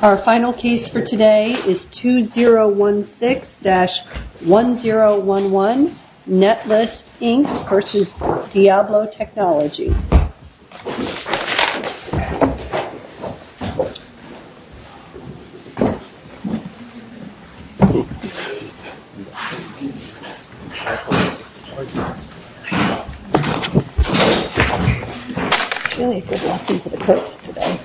Our final case for today is 2016-1011, Netlist, Inc. v. Diablo Technologies. It's really a good lesson for the court today.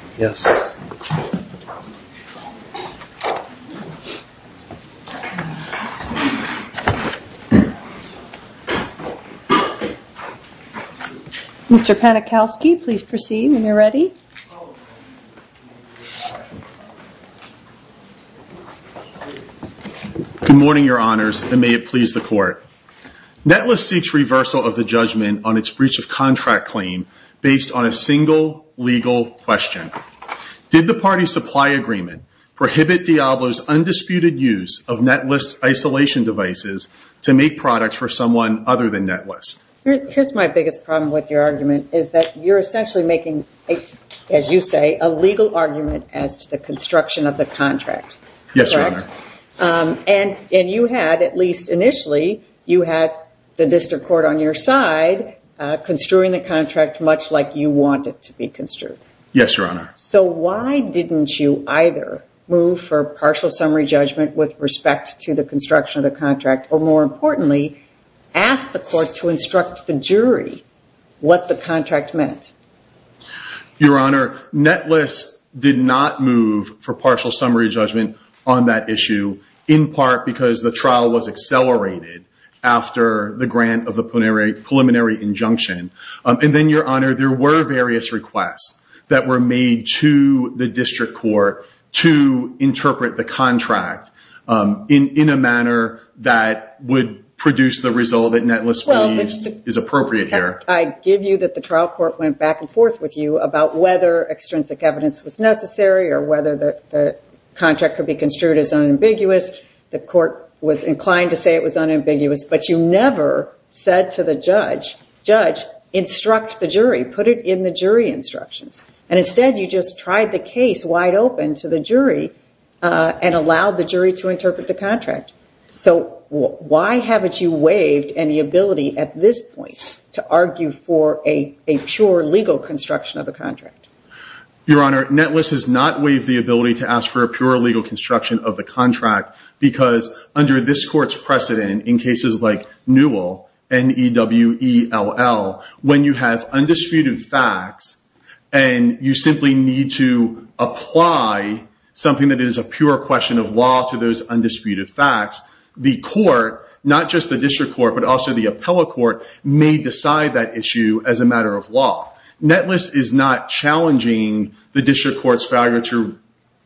Mr. Panikowski, please proceed when you're ready. Good morning, Your Honors, and may it please the court. Netlist seeks reversal of the judgment on its breach of contract claim based on a single legal question. Did the party supply agreement prohibit Diablo's undisputed use of Netlist's isolation devices to make products for someone other than Netlist? Here's my biggest problem with your argument, is that you're essentially making, as you say, a legal argument as to the construction of the contract. Yes, Your Honor. And you had, at least initially, you had the district court on your side construing the contract much like you want it to be construed. Yes, Your Honor. So why didn't you either move for partial summary judgment with respect to the construction of the contract, or more importantly, ask the court to instruct the jury what the contract meant? Your Honor, Netlist did not move for partial summary judgment on that issue, in part because the trial was accelerated after the grant of the preliminary injunction. And then, Your Honor, there were various requests that were made to the district court to interpret the contract in a manner that would produce the result that Netlist believes is appropriate here. I give you that the trial court went back and forth with you about whether extrinsic evidence was necessary or whether the contract could be construed as unambiguous. The court was inclined to say it was unambiguous, but you never said to the judge, judge, instruct the jury. Put it in the jury instructions. And instead, you just tried the case wide open to the jury and allowed the jury to interpret the contract. So why haven't you waived any ability at this point to argue for a pure legal construction of the contract? Your Honor, Netlist has not waived the ability to ask for a pure legal construction of the contract because under this court's precedent in cases like Newell, N-E-W-E-L-L, when you have undisputed facts and you simply need to apply something that is a pure question of law to those undisputed facts, the court, not just the district court, but also the appellate court, may decide that issue as a matter of law. Netlist is not challenging the district court's failure to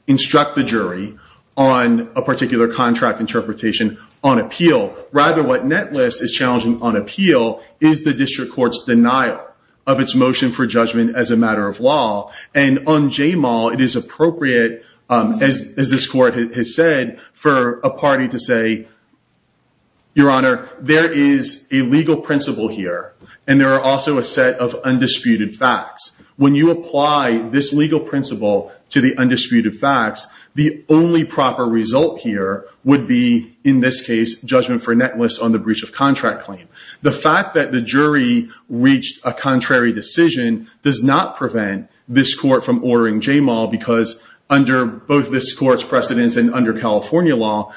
instruct the jury on a particular contract interpretation on appeal. Rather, what Netlist is challenging on appeal is the district court's denial of its motion for judgment as a matter of law. And on JMAL, it is appropriate, as this court has said, for a party to say, Your Honor, there is a legal principle here, and there are also a set of undisputed facts. When you apply this legal principle to the undisputed facts, the only proper result here would be, in this case, judgment for Netlist on the breach of contract claim. The fact that the jury reached a contrary decision does not prevent this court from ordering JMAL because under both this court's precedence and under California law,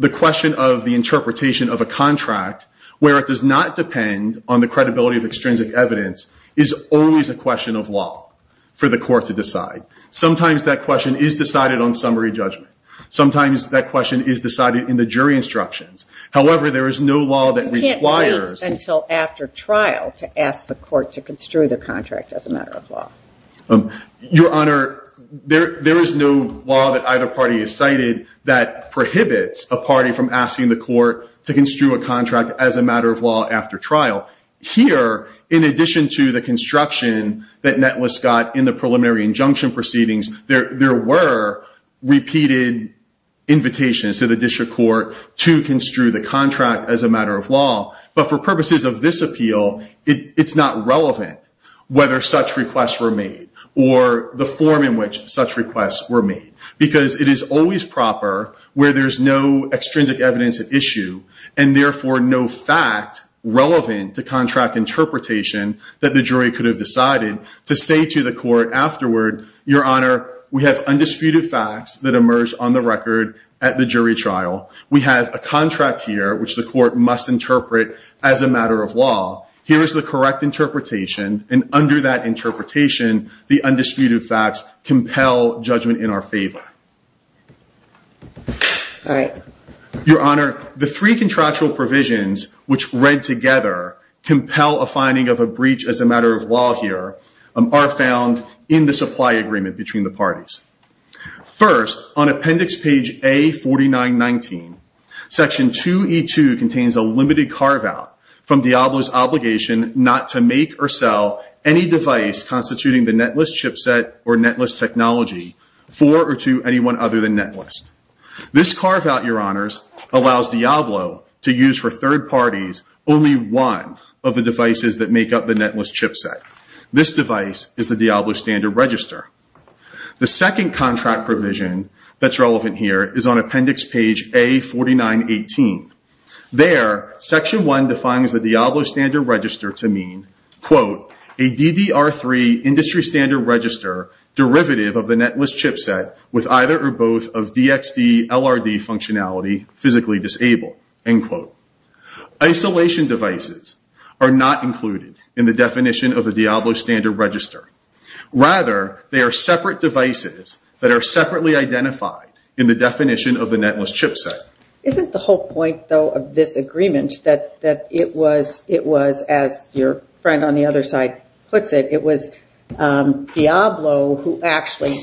the question of the interpretation of a contract where it does not depend on the credibility of extrinsic evidence is always a question of law for the court to decide. Sometimes that question is decided on summary judgment. Sometimes that question is decided in the jury instructions. However, there is no law that requires— You can't wait until after trial to ask the court to construe the contract as a matter of law. Your Honor, there is no law that either party has cited that prohibits a party from asking the court to construe a contract as a matter of law after trial. Here, in addition to the construction that Netlist got in the preliminary injunction proceedings, there were repeated invitations to the district court to construe the contract as a matter of law. But for purposes of this appeal, it's not relevant whether such requests were made or the form in which such requests were made because it is always proper where there's no extrinsic evidence at issue and therefore no fact relevant to contract interpretation that the jury could have decided to say to the court afterward, Your Honor, we have undisputed facts that emerged on the record at the jury trial. We have a contract here which the court must interpret as a matter of law. Here is the correct interpretation, and under that interpretation, the undisputed facts compel judgment in our favor. Your Honor, the three contractual provisions which read together compel a finding of a breach as a matter of law here are found in the supply agreement between the parties. First, on appendix page A4919, section 2E2 contains a limited carve-out from Diablo's obligation not to make or sell any device constituting the Netlist chipset or Netlist technology for or to anyone other than Netlist. This carve-out, Your Honors, allows Diablo to use for third parties only one of the devices that make up the Netlist chipset. This device is the Diablo Standard Register. The second contract provision that's relevant here is on appendix page A4918. There, section 1 defines the Diablo Standard Register to mean, Isolation devices are not included in the definition of the Diablo Standard Register. Rather, they are separate devices that are separately identified in the definition of the Netlist chipset. Isn't the whole point, though, of this agreement that it was, as your friend on the other side puts it, it was Diablo who actually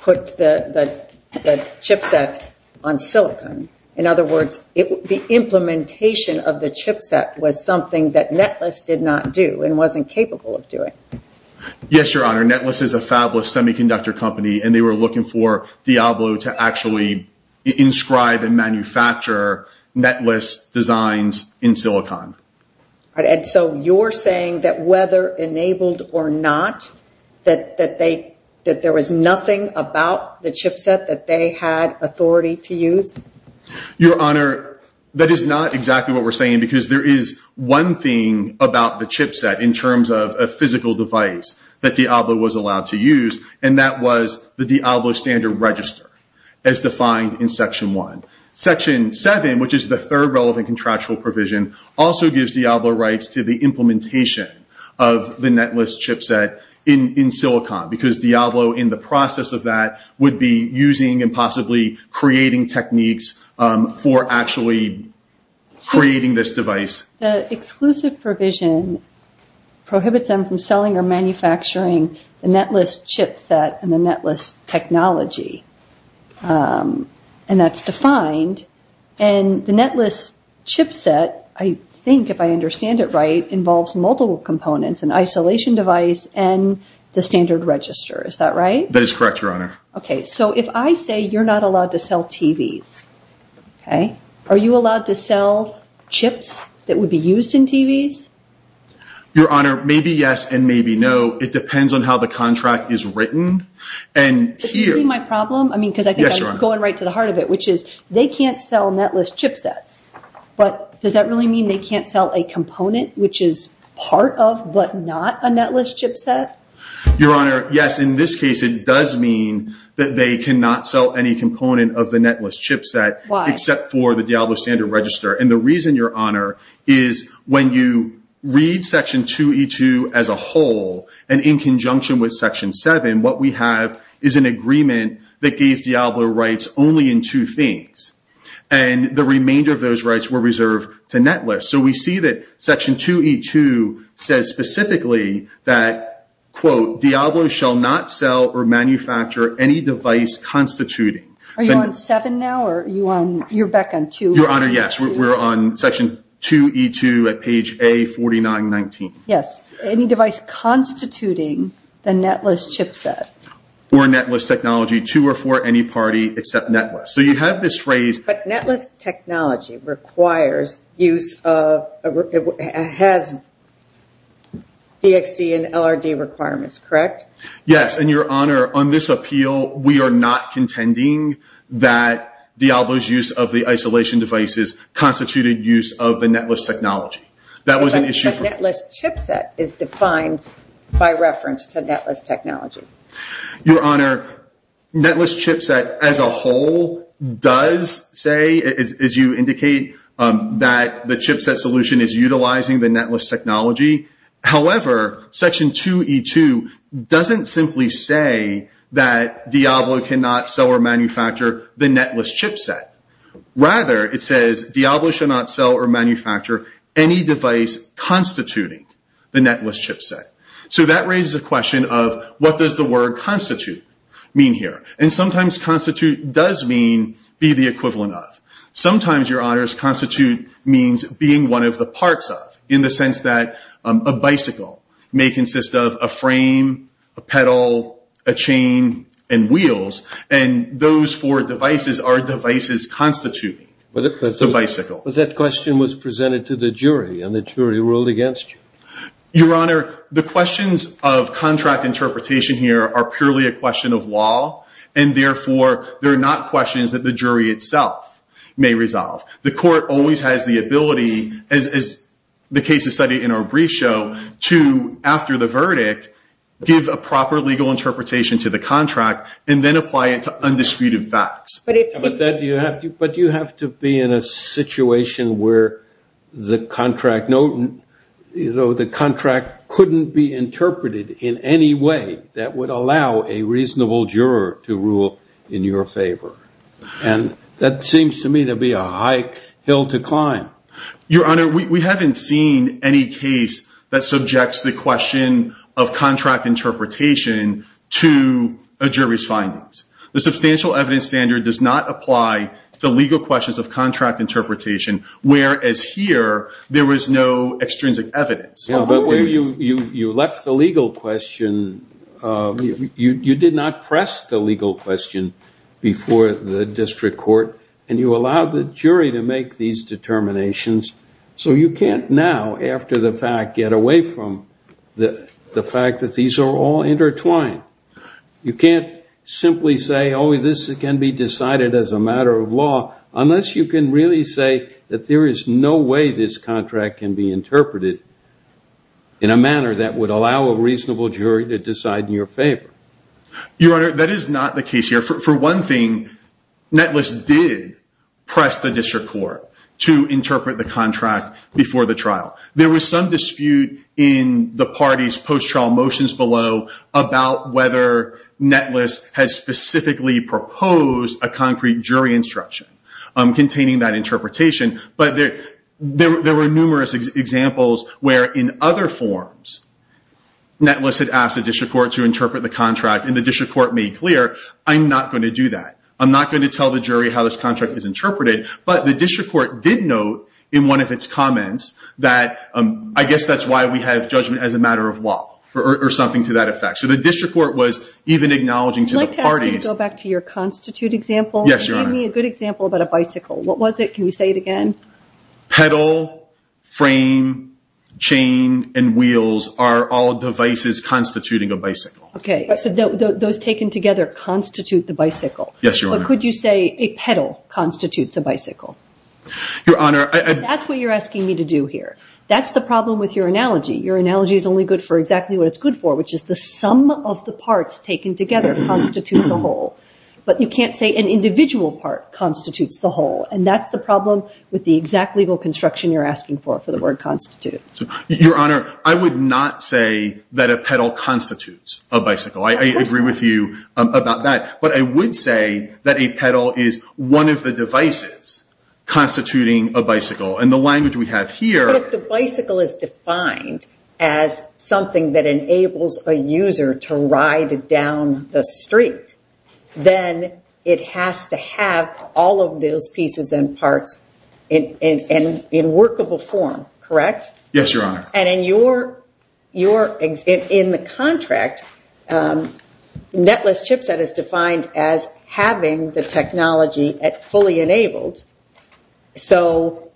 put the chipset on silicon? In other words, the implementation of the chipset was something that Netlist did not do and wasn't capable of doing. Yes, Your Honor. Netlist is a fabless semiconductor company, and they were looking for Diablo to actually inscribe and manufacture Netlist designs in silicon. And so you're saying that whether enabled or not, that there was nothing about the chipset that they had authority to use? Your Honor, that is not exactly what we're saying, because there is one thing about the chipset in terms of a physical device that Diablo was allowed to use, and that was the Diablo Standard Register, as defined in section 1. Section 7, which is the third relevant contractual provision, also gives Diablo rights to the implementation of the Netlist chipset in silicon, because Diablo, in the process of that, would be using and possibly creating techniques for actually creating this device. The exclusive provision prohibits them from selling or manufacturing the Netlist chipset and the Netlist technology, and that's defined. And the Netlist chipset, I think, if I understand it right, involves multiple components, an isolation device and the Standard Register. Is that right? That is correct, Your Honor. Okay, so if I say you're not allowed to sell TVs, are you allowed to sell chips that would be used in TVs? Your Honor, maybe yes and maybe no. It depends on how the contract is written. Do you see my problem? I mean, because I think I'm going right to the heart of it, which is they can't sell Netlist chipsets. But does that really mean they can't sell a component, which is part of but not a Netlist chipset? Your Honor, yes. In this case, it does mean that they cannot sell any component of the Netlist chipset, except for the Diablo Standard Register. And the reason, Your Honor, is when you read Section 2E2 as a whole and in conjunction with Section 7, what we have is an agreement that gave Diablo rights only in two things. And the remainder of those rights were reserved to Netlist. So we see that Section 2E2 says specifically that, quote, Diablo shall not sell or manufacture any device constituting. Are you on 7 now, or you're back on 2? Your Honor, yes. We're on Section 2E2 at page A4919. Yes. Any device constituting the Netlist chipset. For Netlist technology to or for any party except Netlist. So you have this phrase. But Netlist technology requires use of – has DXD and LRD requirements, correct? Yes, and Your Honor, on this appeal, we are not contending that Diablo's use of the isolation devices constituted use of the Netlist technology. That was an issue – But the Netlist chipset is defined by reference to Netlist technology. Your Honor, Netlist chipset as a whole does say, as you indicate, that the chipset solution is utilizing the Netlist technology. However, Section 2E2 doesn't simply say that Diablo cannot sell or manufacture the Netlist chipset. Rather, it says Diablo shall not sell or manufacture any device constituting the Netlist chipset. So that raises the question of what does the word constitute mean here? And sometimes constitute does mean be the equivalent of. Sometimes, Your Honor, constitute means being one of the parts of. In the sense that a bicycle may consist of a frame, a pedal, a chain, and wheels. And those four devices are devices constituting the bicycle. But that question was presented to the jury and the jury ruled against you. Your Honor, the questions of contract interpretation here are purely a question of law. And therefore, they're not questions that the jury itself may resolve. The court always has the ability, as the case is studied in our brief show, to, after the verdict, give a proper legal interpretation to the contract and then apply it to undisputed facts. But you have to be in a situation where the contract couldn't be interpreted in any way that would allow a reasonable juror to rule in your favor. And that seems to me to be a high hill to climb. Your Honor, we haven't seen any case that subjects the question of contract interpretation to a jury's findings. The substantial evidence standard does not apply to legal questions of contract interpretation, whereas here, there was no extrinsic evidence. But when you left the legal question, you did not press the legal question before the district court. And you allowed the jury to make these determinations. So you can't now, after the fact, get away from the fact that these are all intertwined. You can't simply say, oh, this can be decided as a matter of law, unless you can really say that there is no way this contract can be interpreted in a manner that would allow a reasonable jury to decide in your favor. Your Honor, that is not the case here. For one thing, Netless did press the district court to interpret the contract before the trial. There was some dispute in the party's post-trial motions below about whether Netless has specifically proposed a concrete jury instruction containing that interpretation. But there were numerous examples where, in other forms, Netless had asked the district court to interpret the contract. And the district court made clear, I'm not going to do that. I'm not going to tell the jury how this contract is interpreted. But the district court did note in one of its comments that, I guess that's why we have judgment as a matter of law, or something to that effect. So the district court was even acknowledging to the parties. I'd like to ask you to go back to your constitute example. Yes, Your Honor. And give me a good example about a bicycle. What was it? Can you say it again? Pedal, frame, chain, and wheels are all devices constituting a bicycle. OK. So those taken together constitute the bicycle. Yes, Your Honor. Or could you say a pedal constitutes a bicycle? Your Honor, I- That's what you're asking me to do here. That's the problem with your analogy. Your analogy is only good for exactly what it's good for, which is the sum of the parts taken together constitute the whole. But you can't say an individual part constitutes the whole. And that's the problem with the exact legal construction you're asking for, for the word constitute. Your Honor, I would not say that a pedal constitutes a bicycle. I agree with you about that. But I would say that a pedal is one of the devices constituting a bicycle. And the language we have here- But if the bicycle is defined as something that enables a user to ride down the street, then it has to have all of those pieces and parts in workable form, correct? Yes, Your Honor. And in the contract, netless chipset is defined as having the technology fully enabled. So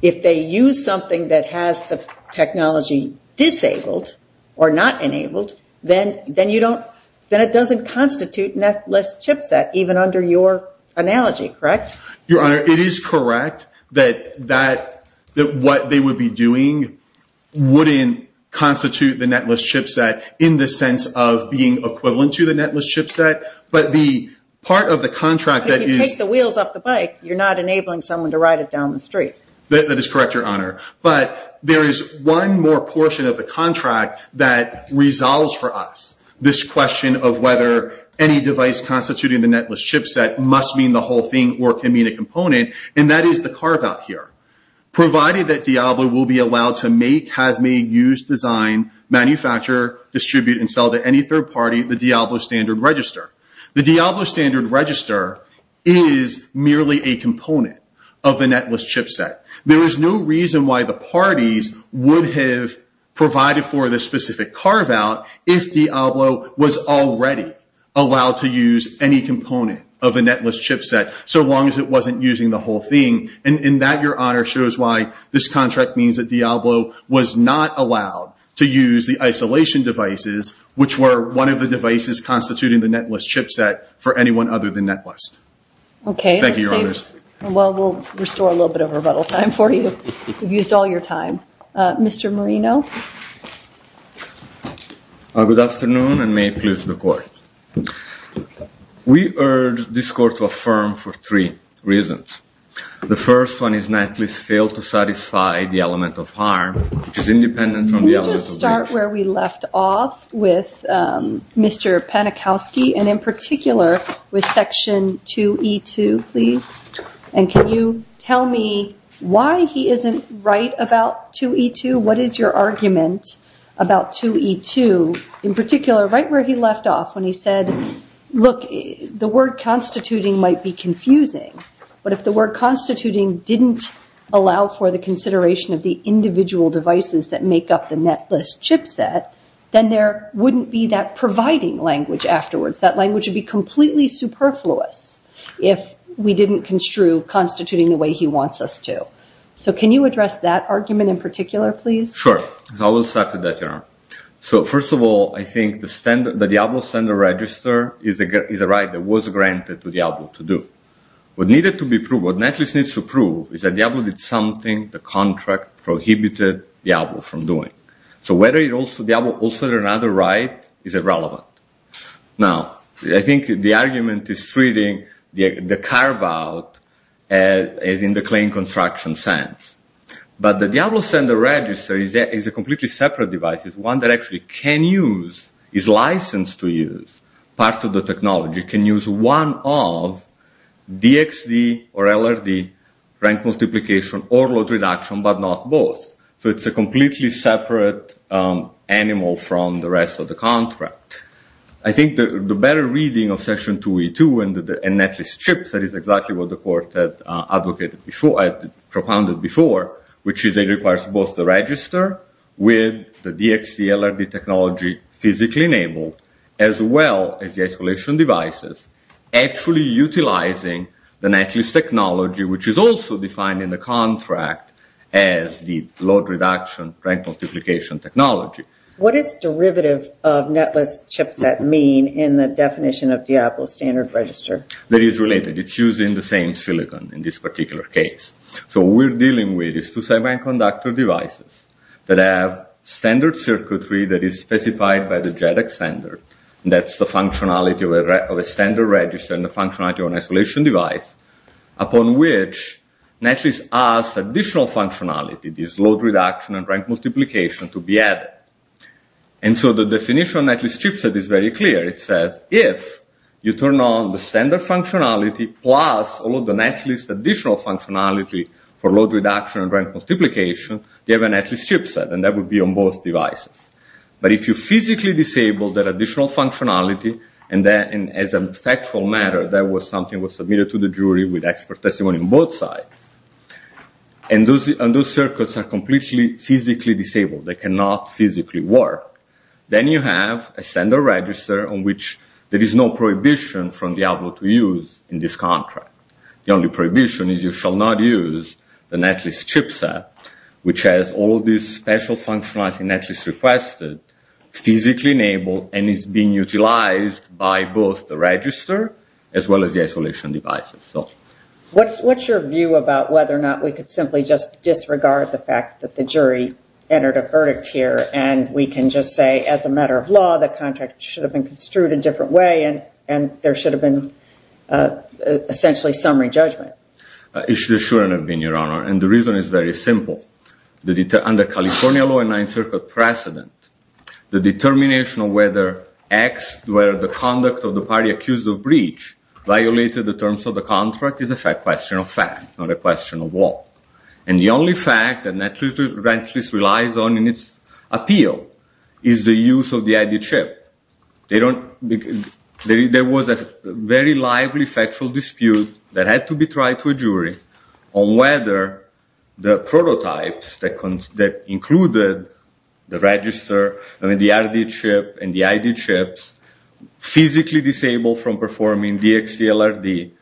if they use something that has the technology disabled or not enabled, then it doesn't constitute netless chipset, even under your analogy, correct? Your Honor, it is correct that what they would be doing wouldn't constitute the netless chipset in the sense of being equivalent to the netless chipset. But the part of the contract that is- If you take the wheels off the bike, you're not enabling someone to ride it down the street. That is correct, Your Honor. But there is one more portion of the contract that resolves for us this question of whether any device constituting the netless chipset must mean the whole thing or can mean a component, and that is the carve-out here. Provided that Diablo will be allowed to make, have made, use, design, manufacture, distribute, and sell to any third party the Diablo Standard Register. The Diablo Standard Register is merely a component of the netless chipset. There is no reason why the parties would have provided for this specific carve-out if Diablo was already allowed to use any component of the netless chipset, so long as it wasn't using the whole thing. And that, Your Honor, shows why this contract means that Diablo was not allowed to use the isolation devices, which were one of the devices constituting the netless chipset for anyone other than netless. Okay. Thank you, Your Honors. Well, we'll restore a little bit of rebuttal time for you. You've used all your time. Mr. Marino? Good afternoon, and may it please the Court. We urge this Court to affirm for three reasons. The first one is netless failed to satisfy the element of harm, which is independent from the element of wish. Can we just start where we left off with Mr. Panikowski, and in particular with Section 2E2, please? And can you tell me why he isn't right about 2E2? What is your argument about 2E2? In particular, right where he left off when he said, look, the word constituting might be confusing, but if the word constituting didn't allow for the consideration of the individual devices that make up the netless chipset, then there wouldn't be that providing language afterwards. That language would be completely superfluous if we didn't construe constituting the way he wants us to. So can you address that argument in particular, please? Sure. I will start with that, Your Honor. So first of all, I think the Diablo standard register is a right that was granted to Diablo to do. What needed to be proved, what netless needs to prove, is that Diablo did something the contract prohibited Diablo from doing. So whether Diablo also had another right is irrelevant. Now, I think the argument is treating the carve-out as in the claim construction sense. But the Diablo standard register is a completely separate device. It's one that actually can use, is licensed to use, part of the technology. It can use one of DXD or LRD rank multiplication or load reduction, but not both. So it's a completely separate animal from the rest of the contract. I think the better reading of section 2E2 and netless chipset is exactly what the court had propounded before, which is it requires both the register with the DXD LRD technology physically enabled, as well as the isolation devices, actually utilizing the netless technology, which is also defined in the contract as the load reduction rank multiplication technology. What does derivative of netless chipset mean in the definition of Diablo standard register? That is related. It's using the same silicon in this particular case. So what we're dealing with is two semiconductor devices that have standard circuitry that is specified by the JEDEC standard. That's the functionality of a standard register and the functionality of an isolation device, upon which netless has additional functionality, this load reduction and rank multiplication to be added. So the definition of netless chipset is very clear. It says if you turn on the standard functionality plus all of the netless additional functionality for load reduction and rank multiplication, you have a netless chipset, and that would be on both devices. But if you physically disable that additional functionality, and as a factual matter, that was something that was submitted to the jury with expert testimony on both sides, and those circuits are completely physically disabled, they cannot physically work, then you have a standard register on which there is no prohibition from Diablo to use in this contract. The only prohibition is you shall not use the netless chipset, which has all of this special functionality netless requested, physically enabled, and is being utilized by both the register as well as the isolation devices. What's your view about whether or not we could simply just disregard the fact that the jury entered a verdict here, and we can just say as a matter of law the contract should have been construed a different way, and there should have been essentially summary judgment? It shouldn't have been, Your Honor, and the reason is very simple. Under California law and Ninth Circuit precedent, the determination of whether the conduct of the party accused of breach violated the terms of the contract is a question of fact, not a question of law. And the only fact that netless relies on in its appeal is the use of the added chip. There was a very lively factual dispute that had to be tried to a jury on whether the prototypes that included the register, the added chip, and the added chips, physically disabled from performing DXCLRD,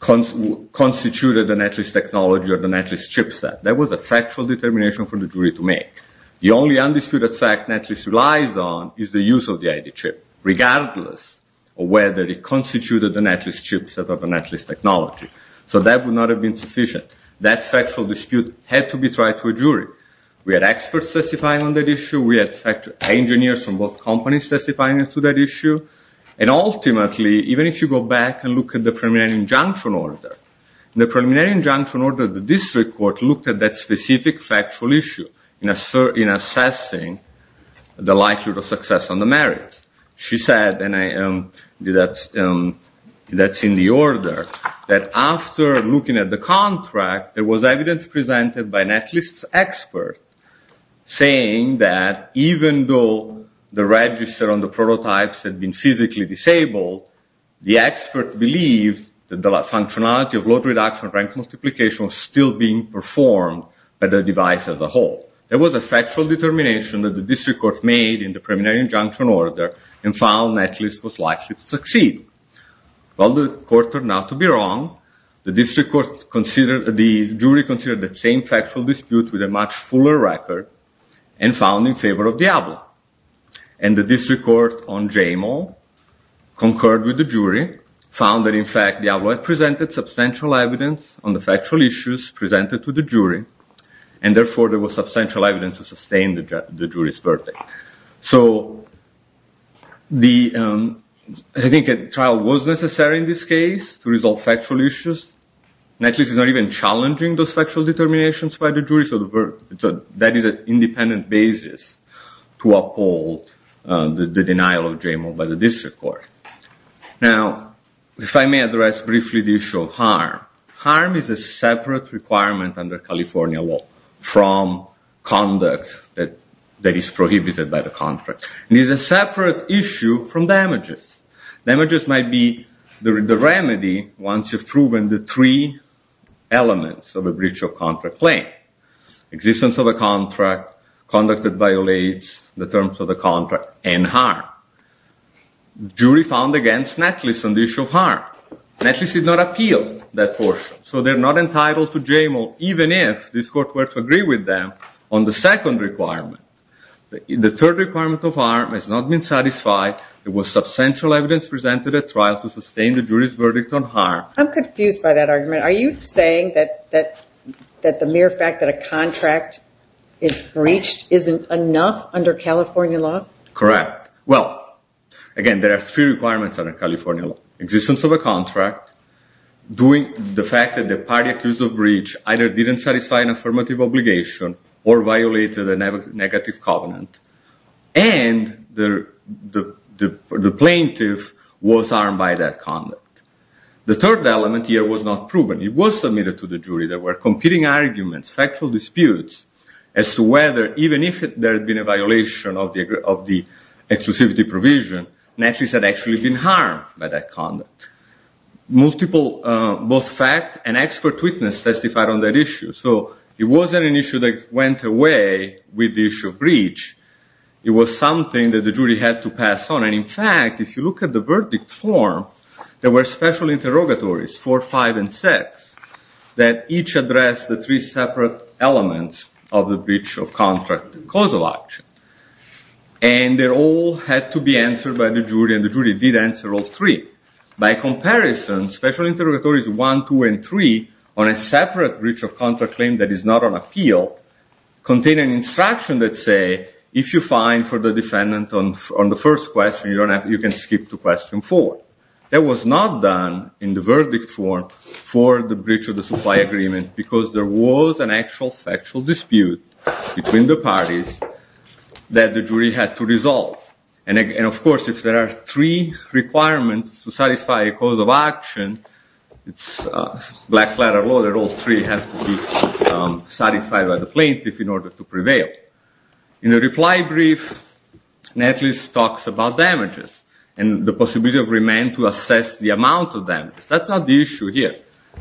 constituted the netless technology or the netless chipset. That was a factual determination for the jury to make. The only undisputed fact netless relies on is the use of the added chip, regardless of whether it constituted the netless chipset or the netless technology. So that would not have been sufficient. That factual dispute had to be tried to a jury. We had experts testifying on that issue. We had engineers from both companies testifying to that issue. And ultimately, even if you go back and look at the preliminary injunction order, the preliminary injunction order of the district court looked at that specific factual issue in assessing the likelihood of success on the merits. She said, and that's in the order, that after looking at the contract, there was evidence presented by netless experts saying that even though the register on the prototypes had been physically disabled, the expert believed that the functionality of load reduction, rank multiplication was still being performed by the device as a whole. There was a factual determination that the district court made in the preliminary injunction order and found netless was likely to succeed. Well, the court turned out to be wrong. The jury considered the same factual dispute with a much fuller record and found in favor of Diablo. And the district court on Jamal concurred with the jury, found that in fact Diablo had presented substantial evidence on the factual issues presented to the jury, and therefore there was substantial evidence to sustain the jury's verdict. So I think a trial was necessary in this case to resolve factual issues. Netless is not even challenging those factual determinations by the jury, so that is an independent basis to uphold the denial of Jamal by the district court. Now, if I may address briefly the issue of harm. Harm is a separate requirement under California law from conduct that is prohibited by the contract. It is a separate issue from damages. Damages might be the remedy once you've proven the three elements of a breach of contract claim, existence of a contract, conduct that violates the terms of the contract, and harm. The jury found against netless on the issue of harm. Netless did not appeal that portion, so they're not entitled to Jamal, even if this court were to agree with them on the second requirement. The third requirement of harm has not been satisfied. There was substantial evidence presented at trial to sustain the jury's verdict on harm. I'm confused by that argument. Are you saying that the mere fact that a contract is breached isn't enough under California law? Correct. Well, again, there are three requirements under California law. Existence of a contract, the fact that the party accused of breach either didn't satisfy an affirmative obligation or violated a negative covenant, and the plaintiff was harmed by that conduct. The third element here was not proven. It was submitted to the jury. There were competing arguments, factual disputes, as to whether, even if there had been a violation of the exclusivity provision, netless had actually been harmed by that conduct. Both fact and expert witness testified on that issue. It wasn't an issue that went away with the issue of breach. It was something that the jury had to pass on. In fact, if you look at the verdict form, there were special interrogatories, four, five, and six, that each addressed the three separate elements of the breach of contract causal action. They all had to be answered by the jury, and the jury did answer all three. By comparison, special interrogatories one, two, and three, on a separate breach of contract claim that is not on appeal, contain an instruction that say, if you're fine for the defendant on the first question, you can skip to question four. That was not done in the verdict form for the breach of the supply agreement, because there was an actual factual dispute between the parties that the jury had to resolve. Of course, if there are three requirements to satisfy a cause of action, it's a black-letter law that all three have to be satisfied by the plaintiff in order to prevail. In the reply brief, netless talks about damages, and the possibility of remand to assess the amount of damage. That's not the issue here.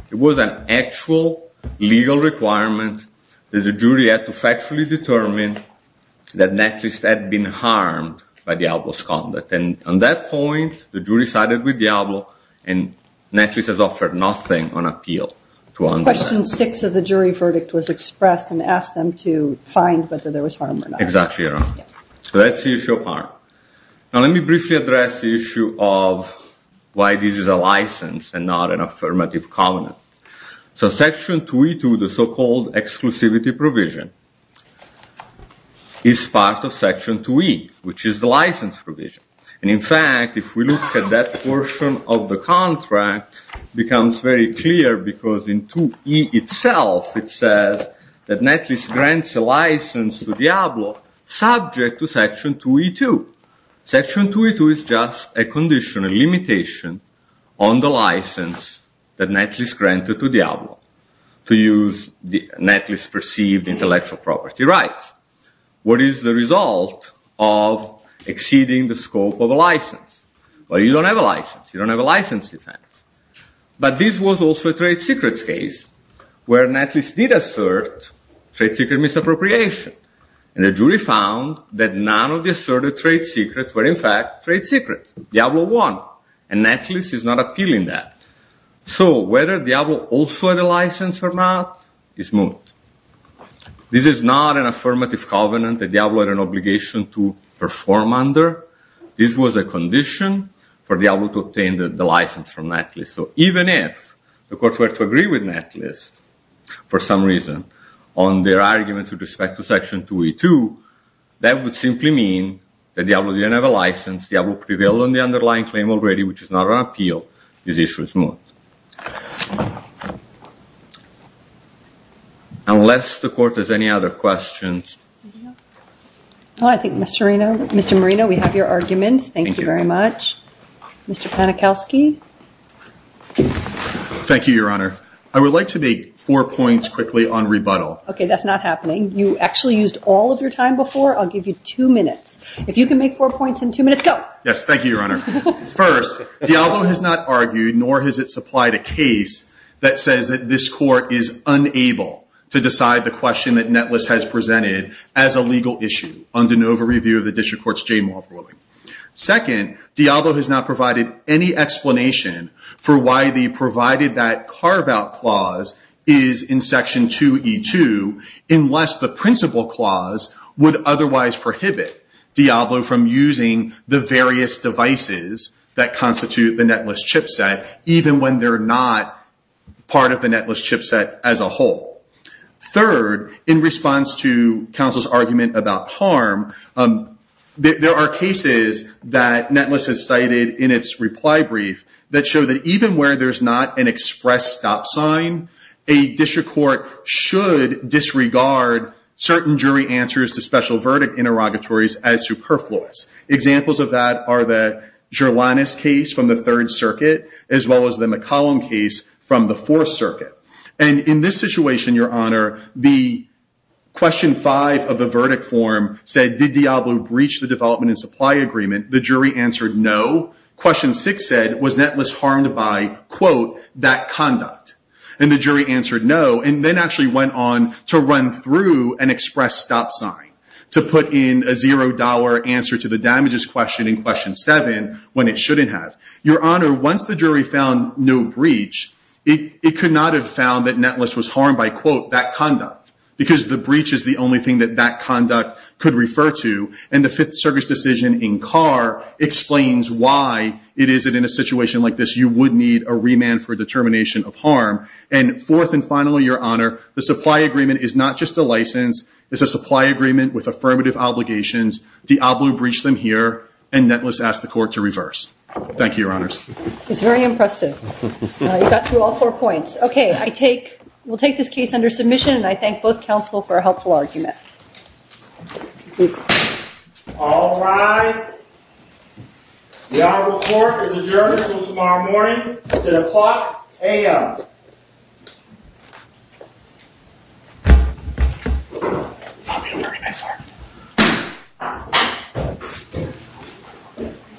It was an actual legal requirement that the jury had to factually determine that netless had been harmed by Diablo's conduct. On that point, the jury sided with Diablo, and netless has offered nothing on appeal. Question six of the jury verdict was expressed and asked them to find whether there was harm or not. Exactly right. That's the issue of harm. Let me briefly address the issue of why this is a license and not an affirmative covenant. Section 2E2, the so-called exclusivity provision, is part of Section 2E, which is the license provision. In fact, if we look at that portion of the contract, it becomes very clear, because in 2E itself, it says that netless grants a license to Diablo subject to Section 2E2. Section 2E2 is just a condition, a limitation on the license that netless granted to Diablo to use netless perceived intellectual property rights. What is the result of exceeding the scope of a license? Well, you don't have a license. You don't have a license defense. But this was also a trade secrets case where netless did assert trade secret misappropriation, and the jury found that none of the asserted trade secrets were, in fact, trade secrets. Diablo won, and netless is not appealing that. So whether Diablo also had a license or not is moot. This is not an affirmative covenant that Diablo had an obligation to perform under. This was a condition for Diablo to obtain the license from netless. So even if the courts were to agree with netless for some reason on their arguments with respect to Section 2E2, that would simply mean that Diablo didn't have a license. Diablo prevailed on the underlying claim already, which is not an appeal. This issue is moot. Unless the court has any other questions. Well, I think, Mr. Marino, we have your argument. Thank you very much. Mr. Panikowsky. Thank you, Your Honor. I would like to make four points quickly on rebuttal. Okay, that's not happening. You actually used all of your time before. I'll give you two minutes. If you can make four points in two minutes, go. Yes, thank you, Your Honor. First, Diablo has not argued, nor has it supplied a case that says that this court is unable to decide the question that netless has presented as a legal issue under an over-review of the district court's Jane Wall ruling. Second, Diablo has not provided any explanation for why the provided that carve-out clause is in Section 2E2, unless the principle clause would otherwise prohibit Diablo from using the various devices that constitute the netless chipset, even when they're not part of the netless chipset as a whole. Third, in response to counsel's argument about harm, there are cases that netless has cited in its reply brief that show that even where there's not an express stop sign, a district court should disregard certain jury answers to special verdict interrogatories as superfluous. Examples of that are the Gerlanis case from the Third Circuit, as well as the McCollum case from the Fourth Circuit. And in this situation, Your Honor, the question five of the verdict form said, did Diablo breach the development and supply agreement? The jury answered no. Question six said, was netless harmed by, quote, that conduct? And the jury answered no, and then actually went on to run through an express stop sign to put in a zero-dollar answer to the damages question in question seven when it shouldn't have. Your Honor, once the jury found no breach, it could not have found that netless was harmed by, quote, that conduct, because the breach is the only thing that that conduct could refer to, and the Fifth Circuit's decision in Carr explains why it is that in a situation like this, you would need a remand for determination of harm. And fourth and finally, Your Honor, the supply agreement is not just a license. It's a supply agreement with affirmative obligations. Diablo breached them here, and netless asked the court to reverse. Thank you, Your Honors. He's very impressive. You got through all four points. Okay, we'll take this case under submission, and I thank both counsel for a helpful argument. All rise. The honorable court is adjourned until tomorrow morning at 10 o'clock a.m.